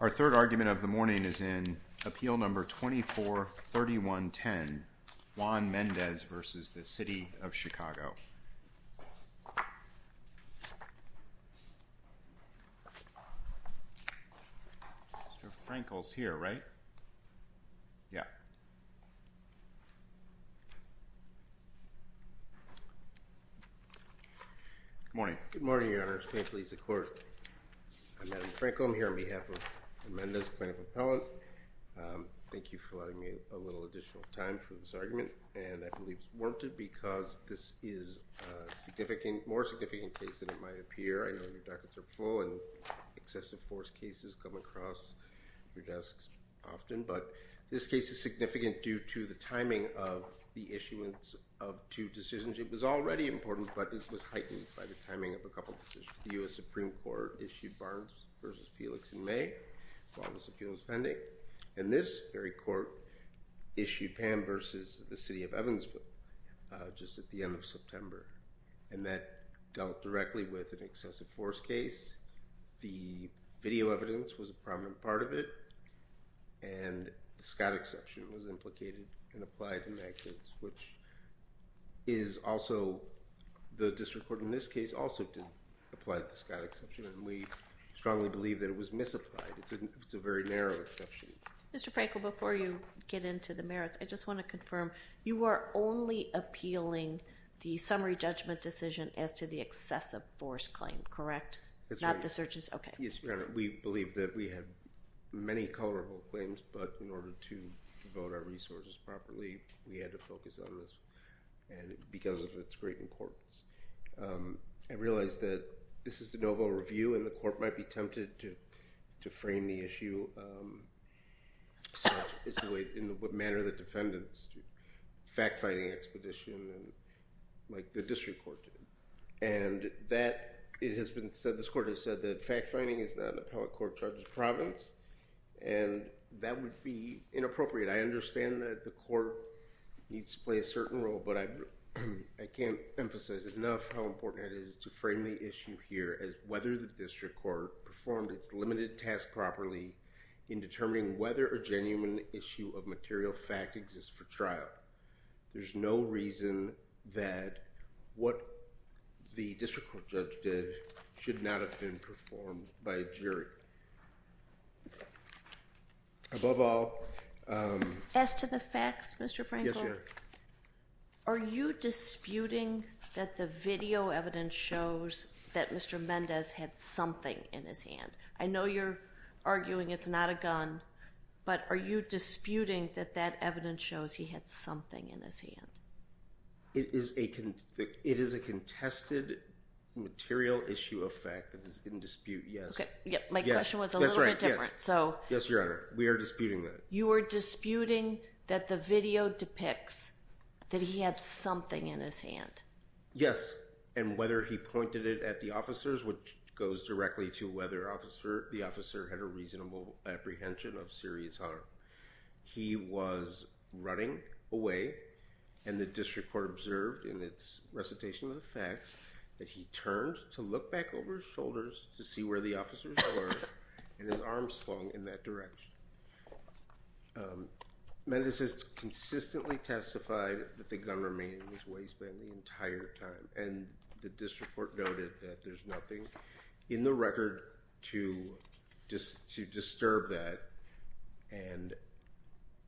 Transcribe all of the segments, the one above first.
Our third argument of the morning is in Appeal No. 24-31-10, Juan Mendez v. City of Chicago. Mr. Frankel is here, right? Yeah. Good morning. Good morning, Your Honor. It's a pleasure to be here. I'm Adam Frankel. I'm here on behalf of the Mendez plaintiff appellant. Thank you for allowing me a little additional time for this argument. And I believe it's warranted because this is a significant, more significant case than it might appear. I know your dockets are full and excessive force cases come across your desks often. But this case is significant due to the timing of the issuance of two decisions. It was already important, but it was heightened by the timing of a couple decisions. The U.S. Supreme Court issued Barnes v. Felix in May while this appeal was pending. And this very court issued Pam v. the City of Evansville just at the end of September. And that dealt directly with an excessive force case. The video evidence was a prominent part of it. And the Scott exception was implicated and applied in that case, which is also the district court in this case also didn't apply the Scott exception. And we strongly believe that it was misapplied. It's a very narrow exception. Mr. Frankel, before you get into the merits, I just want to confirm, you are only appealing the summary judgment decision as to the excessive force claim, correct? That's right. Not the searches? Okay. Yes, Your Honor, we believe that we have many colorable claims, but in order to devote our resources properly, we had to focus on this because of its great importance. I realize that this is a no-vote review, and the court might be tempted to frame the issue in the manner that defendants do, fact-finding expedition like the district court did. And that it has been said, this court has said that fact-finding is not an appellate court charges province. And that would be inappropriate. I understand that the court needs to play a certain role, but I can't emphasize enough how important it is to frame the issue here as whether the district court performed its limited task properly in determining whether a genuine issue of material fact exists for trial. There's no reason that what the district court judge did should not have been performed by a jury. Above all... As to the facts, Mr. Frankel... Yes, Your Honor. Are you disputing that the video evidence shows that Mr. Mendez had something in his hand? I know you're arguing it's not a gun, but are you disputing that that evidence shows he had something in his hand? It is a contested material issue of fact that is in dispute, yes. My question was a little bit different. Yes, Your Honor. We are disputing that. You are disputing that the video depicts that he had something in his hand? Yes, and whether he pointed it at the officers, which goes directly to whether the officer had a reasonable apprehension of serious harm. He was running away, and the district court observed in its recitation of the facts that he turned to look back over his shoulders to see where the officers were, and his arms flung in that direction. Mendez has consistently testified that the gun remained in his waistband the entire time, and the district court noted that there's nothing in the record to disturb that.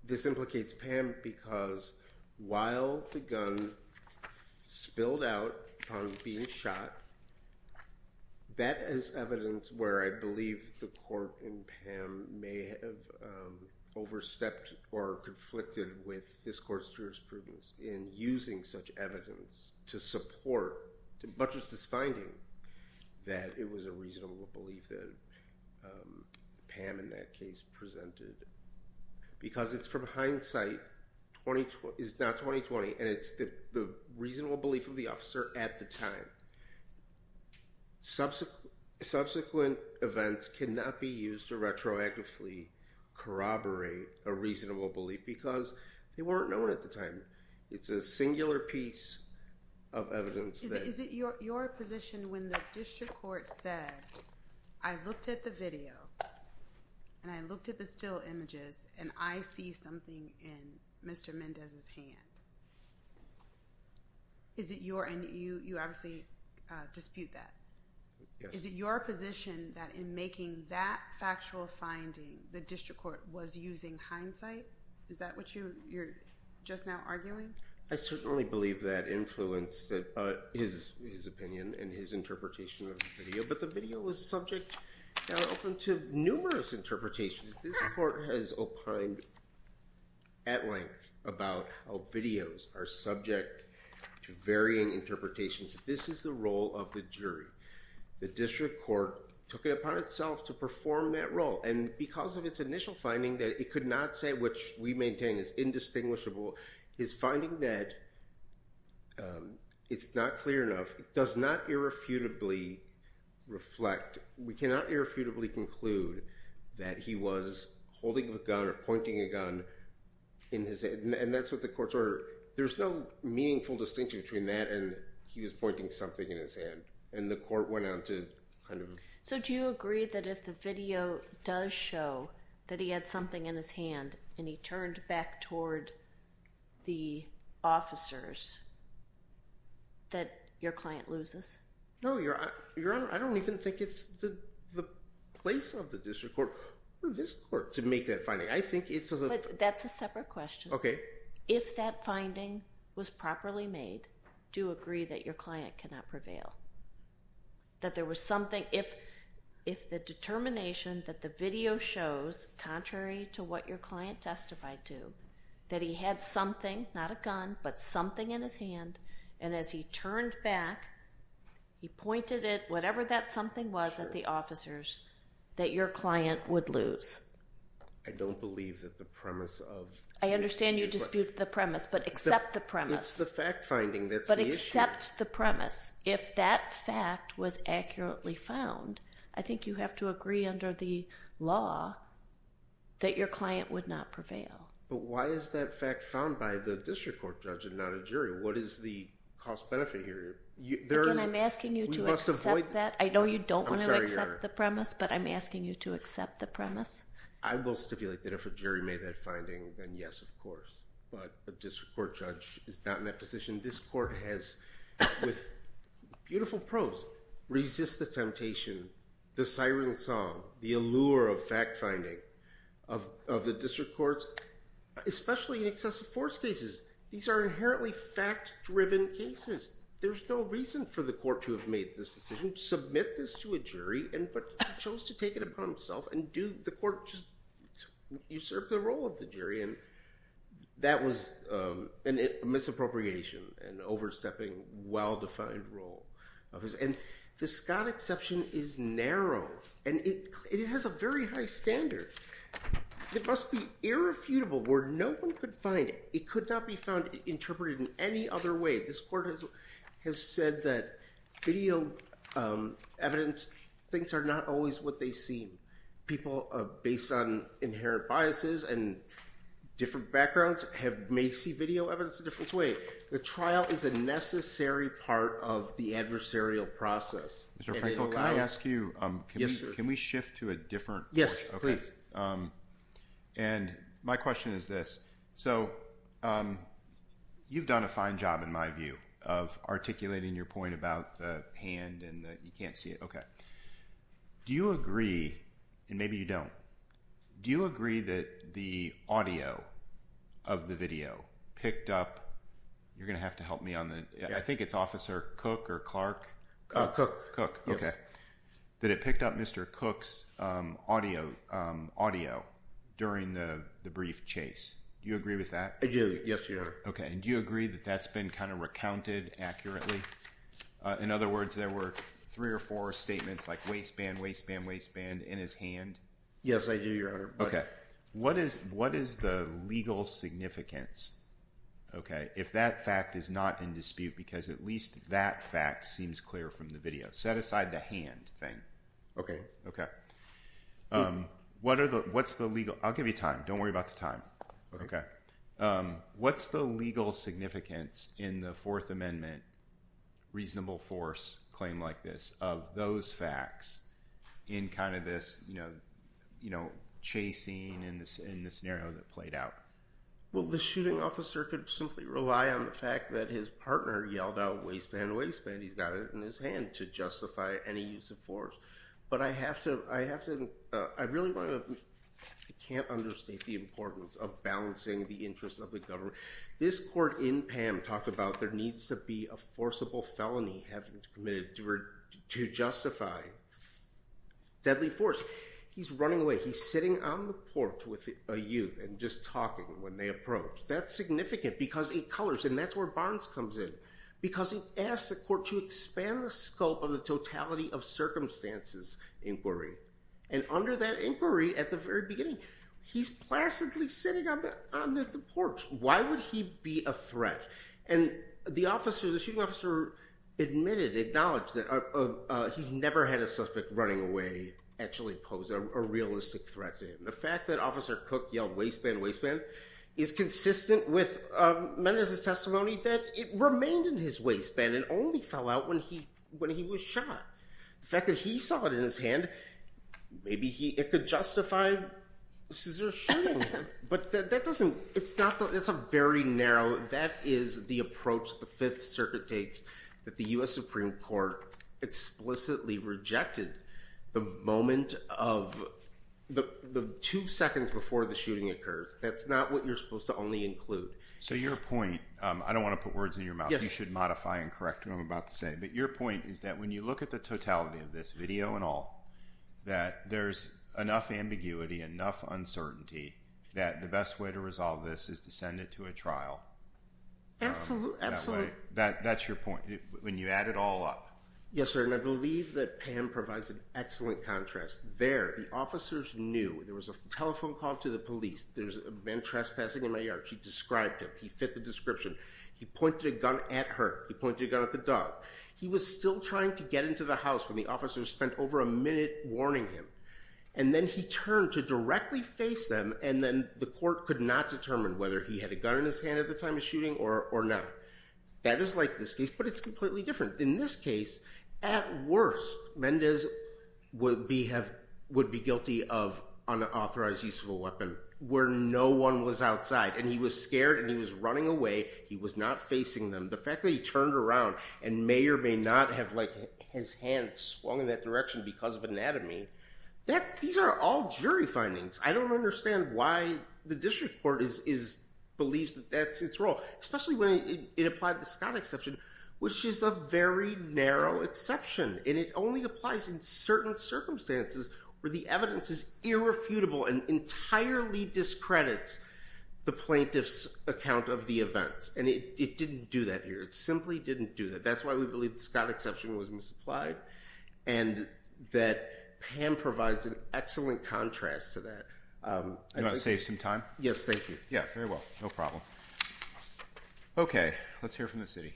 This implicates Pam because while the gun spilled out from being shot, that is evidence where I believe the court and Pam may have overstepped or conflicted with this court's jurisprudence in using such evidence to support, to buttress this finding that it was a reasonable belief that Pam in that case presented. Because it's from hindsight, it's not 2020, and it's the reasonable belief of the officer at the time. Subsequent events cannot be used to retroactively corroborate a reasonable belief because they weren't known at the time. It's a singular piece of evidence. Is it your position when the district court said, I looked at the video, and I looked at the still images, and I see something in Mr. Mendez's hand? Is it your, and you obviously dispute that. Yes. Is it your position that in making that factual finding, the district court was using hindsight? Is that what you're just now arguing? I certainly believe that influenced his opinion and his interpretation of the video. But the video was subject, now open to numerous interpretations. This court has opined at length about how videos are subject to varying interpretations. This is the role of the jury. The district court took it upon itself to perform that role. And because of its initial finding that it could not say, which we maintain is indistinguishable, his finding that it's not clear enough, it does not irrefutably reflect. We cannot irrefutably conclude that he was holding a gun or pointing a gun in his hand. And that's what the court's order. There's no meaningful distinction between that and he was pointing something in his hand. And the court went on to kind of. So do you agree that if the video does show that he had something in his hand and he turned back toward the officers, that your client loses? No, Your Honor, I don't even think it's the place of the district court or this court to make that finding. I think it's. That's a separate question. Okay. If that finding was properly made, do you agree that your client cannot prevail? That there was something. If the determination that the video shows, contrary to what your client testified to, that he had something, not a gun, but something in his hand. And as he turned back, he pointed at whatever that something was at the officers, that your client would lose. I don't believe that the premise of. I understand you dispute the premise, but accept the premise. It's the fact finding that's the issue. Accept the premise. If that fact was accurately found, I think you have to agree under the law that your client would not prevail. But why is that fact found by the district court judge and not a jury? What is the cost benefit here? Again, I'm asking you to accept that. I know you don't want to accept the premise, but I'm asking you to accept the premise. I will stipulate that if a jury made that finding, then yes, of course. But a district court judge is not in that position. This court has, with beautiful prose, resist the temptation, the siren song, the allure of fact finding of the district courts, especially in excessive force cases. These are inherently fact-driven cases. There's no reason for the court to have made this decision, submit this to a jury, but chose to take it upon himself and do the court just usurp the role of the jury. That was a misappropriation, an overstepping, well-defined role. And the Scott exception is narrow, and it has a very high standard. It must be irrefutable where no one could find it. It could not be found interpreted in any other way. This court has said that video evidence thinks are not always what they seem. People based on inherent biases and different backgrounds may see video evidence a different way. The trial is a necessary part of the adversarial process. Mr. Frankel, can I ask you, can we shift to a different portion? Yes, please. And my question is this. So you've done a fine job, in my view, of articulating your point about the hand and that you can't see it. Do you agree, and maybe you don't, do you agree that the audio of the video picked up, you're going to have to help me on that, I think it's Officer Cook or Clark? Cook, okay. That it picked up Mr. Cook's audio during the brief chase. Do you agree with that? I do, yes, Your Honor. Okay. And do you agree that that's been kind of recounted accurately? In other words, there were three or four statements like waistband, waistband, waistband in his hand? Yes, I do, Your Honor. Okay. What is the legal significance, okay, if that fact is not in dispute because at least that fact seems clear from the video? Set aside the hand thing. Okay. Okay. What's the legal, I'll give you time, don't worry about the time. Okay. What's the legal significance in the Fourth Amendment reasonable force claim like this of those facts in kind of this, you know, chasing in this scenario that played out? Well, the shooting officer could simply rely on the fact that his partner yelled out waistband, waistband, he's got it in his hand to justify any use of force. But I have to, I have to, I really want to, I can't understate the importance of balancing the interests of the government. This court in PAM talked about there needs to be a forcible felony committed to justify deadly force. He's running away. He's sitting on the porch with a youth and just talking when they approach. That's significant because it colors and that's where Barnes comes in. Because he asked the court to expand the scope of the totality of circumstances inquiry. And under that inquiry at the very beginning, he's placidly sitting on the porch. Why would he be a threat? And the officer, the shooting officer admitted, acknowledged that he's never had a suspect running away actually pose a realistic threat to him. The fact that Officer Cook yelled waistband, waistband is consistent with Mendoza's testimony that it remained in his waistband and only fell out when he, when he was shot. The fact that he saw it in his hand, maybe he, it could justify a scissor shooting. But that doesn't, it's not, that's a very narrow, that is the approach the Fifth Circuit takes that the U.S. Supreme Court explicitly rejected the moment of the two seconds before the shooting occurs. That's not what you're supposed to only include. So your point, I don't want to put words in your mouth. You should modify and correct what I'm about to say. But your point is that when you look at the totality of this, video and all, that there's enough ambiguity, enough uncertainty that the best way to resolve this is to send it to a trial. Absolutely, absolutely. That's your point. When you add it all up. Yes, sir. And I believe that Pam provides an excellent contrast. There, the officers knew. There was a telephone call to the police. There's a man trespassing in my yard. She described him. He fit the description. He pointed a gun at her. He pointed a gun at the dog. He was still trying to get into the house when the officers spent over a minute warning him. And then he turned to directly face them, and then the court could not determine whether he had a gun in his hand at the time of shooting or not. That is like this case, but it's completely different. In this case, at worst, Mendez would be guilty of unauthorized use of a weapon where no one was outside. And he was scared and he was running away. He was not facing them. The fact that he turned around and may or may not have his hand swung in that direction because of anatomy, these are all jury findings. I don't understand why the district court believes that that's its role, especially when it applied the Scott exception, which is a very narrow exception. And it only applies in certain circumstances where the evidence is irrefutable and entirely discredits the plaintiff's account of the events. And it didn't do that here. It simply didn't do that. That's why we believe the Scott exception was misapplied and that Pam provides an excellent contrast to that. Do you want to save some time? Yes, thank you. Yeah, very well. No problem. Okay. Let's hear from the city.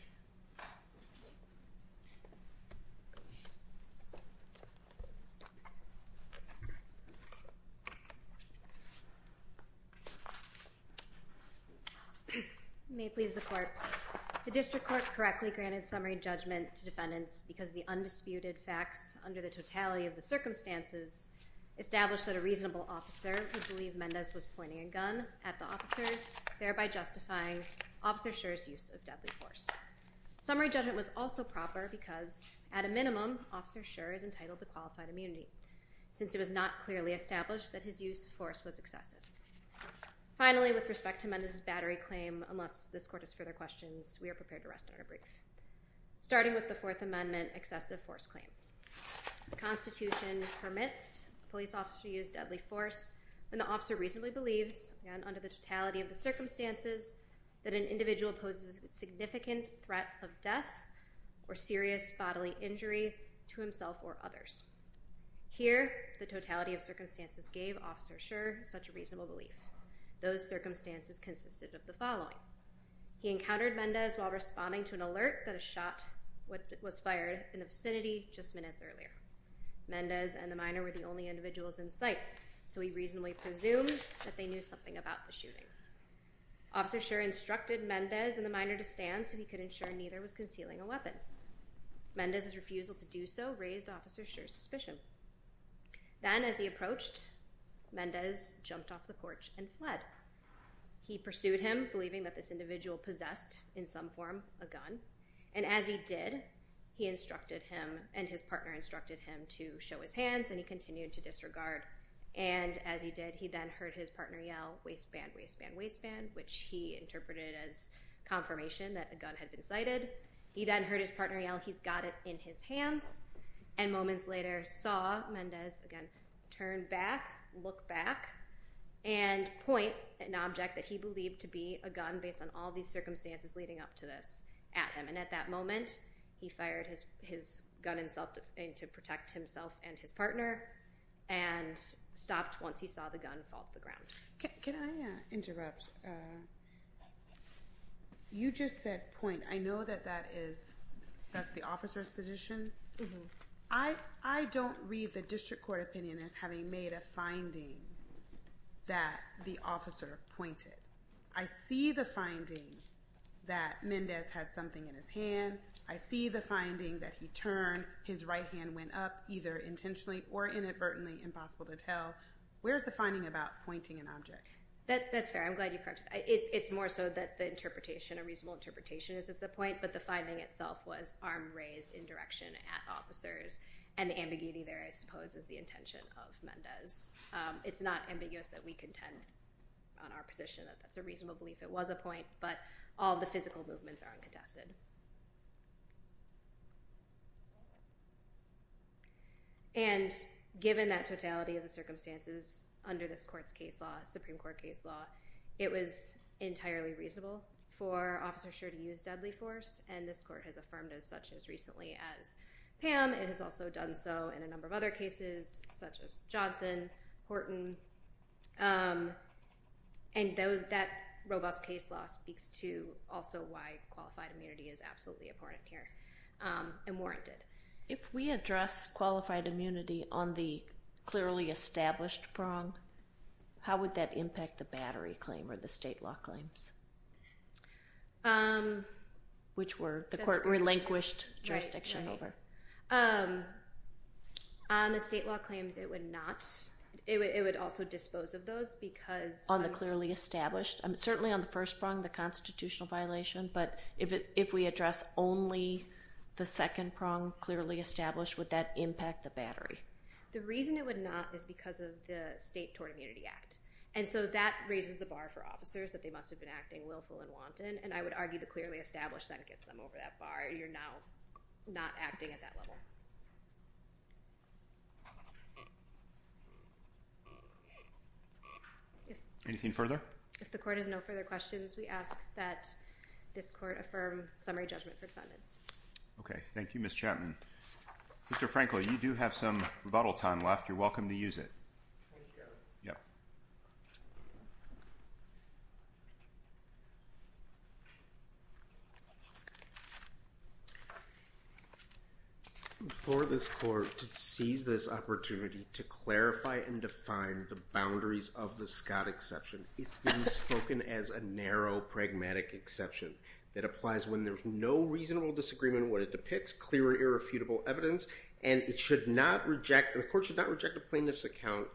May it please the court. The district court correctly granted summary judgment to defendants because the undisputed facts under the totality of the circumstances established that a reasonable officer would believe Mendez was pointing a gun at the officers, thereby justifying Officer Schur's use of deadly force. Summary judgment was also proper because, at a minimum, Officer Schur is entitled to qualified immunity since it was not clearly established that his use of force was excessive. Finally, with respect to Mendez's battery claim, unless this court has further questions, we are prepared to rest on our brief. Starting with the Fourth Amendment excessive force claim. The Constitution permits a police officer to use deadly force when the officer reasonably believes, again, under the totality of the circumstances, that an individual poses a significant threat of death or serious bodily injury to himself or others. Here, the totality of circumstances gave Officer Schur such a reasonable belief. Those circumstances consisted of the following. He encountered Mendez while responding to an alert that a shot was fired in the vicinity just minutes earlier. Mendez and the minor were the only individuals in sight, so he reasonably presumed that they knew something about the shooting. Officer Schur instructed Mendez and the minor to stand so he could ensure neither was concealing a weapon. Mendez's refusal to do so raised Officer Schur's suspicion. Then, as he approached, Mendez jumped off the porch and fled. He pursued him, believing that this individual possessed, in some form, a gun. And as he did, he instructed him and his partner instructed him to show his hands, and he continued to disregard. And as he did, he then heard his partner yell, waistband, waistband, waistband, which he interpreted as confirmation that a gun had been sighted. He then heard his partner yell, he's got it in his hands. And moments later saw Mendez again turn back, look back, and point an object that he believed to be a gun, based on all these circumstances leading up to this, at him. And at that moment, he fired his gun to protect himself and his partner and stopped once he saw the gun fall to the ground. Can I interrupt? You just said point. I know that that is the officer's position. I don't read the district court opinion as having made a finding that the officer pointed. I see the finding that Mendez had something in his hand. I see the finding that he turned, his right hand went up, either intentionally or inadvertently, impossible to tell. Where is the finding about pointing an object? That's fair. I'm glad you corrected that. It's more so that the interpretation, a reasonable interpretation is it's a point, but the finding itself was arm raised in direction at officers, and the ambiguity there, I suppose, is the intention of Mendez. It's not ambiguous that we contend on our position that that's a reasonable belief it was a point, but all the physical movements are uncontested. And given that totality of the circumstances under this court's case law, Supreme Court case law, it was entirely reasonable for Officer Schur to use deadly force, and this court has affirmed as such as recently as Pam. It has also done so in a number of other cases such as Johnson, Horton. And that robust case law speaks to also why qualified immunity is absolutely important here and warranted. If we address qualified immunity on the clearly established prong, how would that impact the battery claim or the state law claims, which were the court relinquished jurisdiction over? On the state law claims, it would not. It would also dispose of those because on the clearly established, certainly on the first prong, the constitutional violation, but if we address only the second prong clearly established, would that impact the battery? The reason it would not is because of the State Tort Immunity Act, and so that raises the bar for officers that they must have been acting willful and wanton, and I would argue the clearly established then gets them over that bar. You're now not acting at that level. Anything further? If the court has no further questions, we ask that this court affirm summary judgment for defendants. Okay. Thank you, Ms. Chapman. Mr. Franklin, you do have some rebuttal time left. You're welcome to use it. Thank you, Your Honor. Yep. For this court to seize this opportunity to clarify and define the boundaries of the Scott exception, it's been spoken as a narrow, pragmatic exception that applies when there's no reasonable disagreement in what it depicts, clear and irrefutable evidence, and it should not reject, the court should not reject a plaintiff's account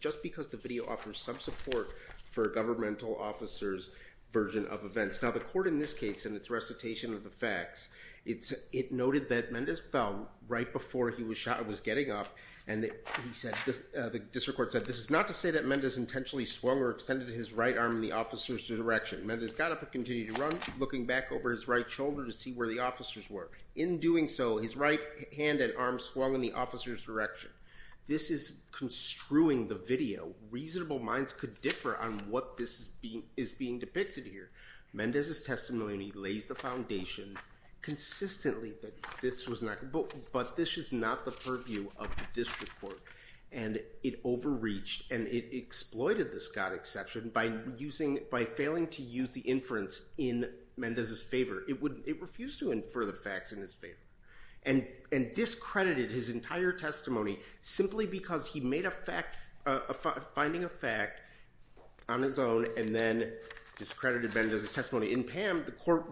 just because the video offers some support for a governmental officer's version of events. Now, the court in this case, in its recitation of the facts, it noted that Mendez fell right before he was getting up, and the district court said, this is not to say that Mendez intentionally swung or extended his right arm in the officer's direction. Mendez got up and continued to run, looking back over his right shoulder to see where the officers were. In doing so, his right hand and arm swung in the officer's direction. This is construing the video. Reasonable minds could differ on what this is being depicted here. Mendez's testimony lays the foundation consistently that this was not, but this is not the purview of the district court, and it overreached and it exploited the Scott exception by using, by failing to use the inference in Mendez's favor. It refused to infer the facts in his favor, and discredited his entire testimony simply because he made a fact, finding a fact on his own, and then discredited Mendez's testimony. In Pam, the court,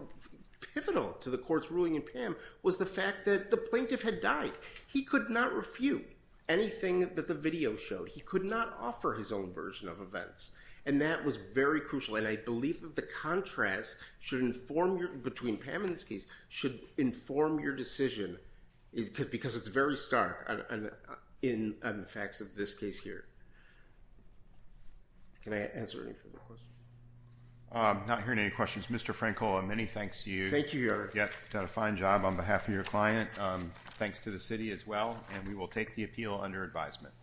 pivotal to the court's ruling in Pam, was the fact that the plaintiff had died. He could not refute anything that the video showed. He could not offer his own version of events, and that was very crucial, and I believe that the contrast should inform, between Pam and this case, should inform your decision, because it's very stark on the facts of this case here. Can I answer any further questions? I'm not hearing any questions. Mr. Frankel, many thanks to you. Thank you, Your Honor. You've done a fine job on behalf of your client. Thanks to the city as well, and we will take the appeal under advisement.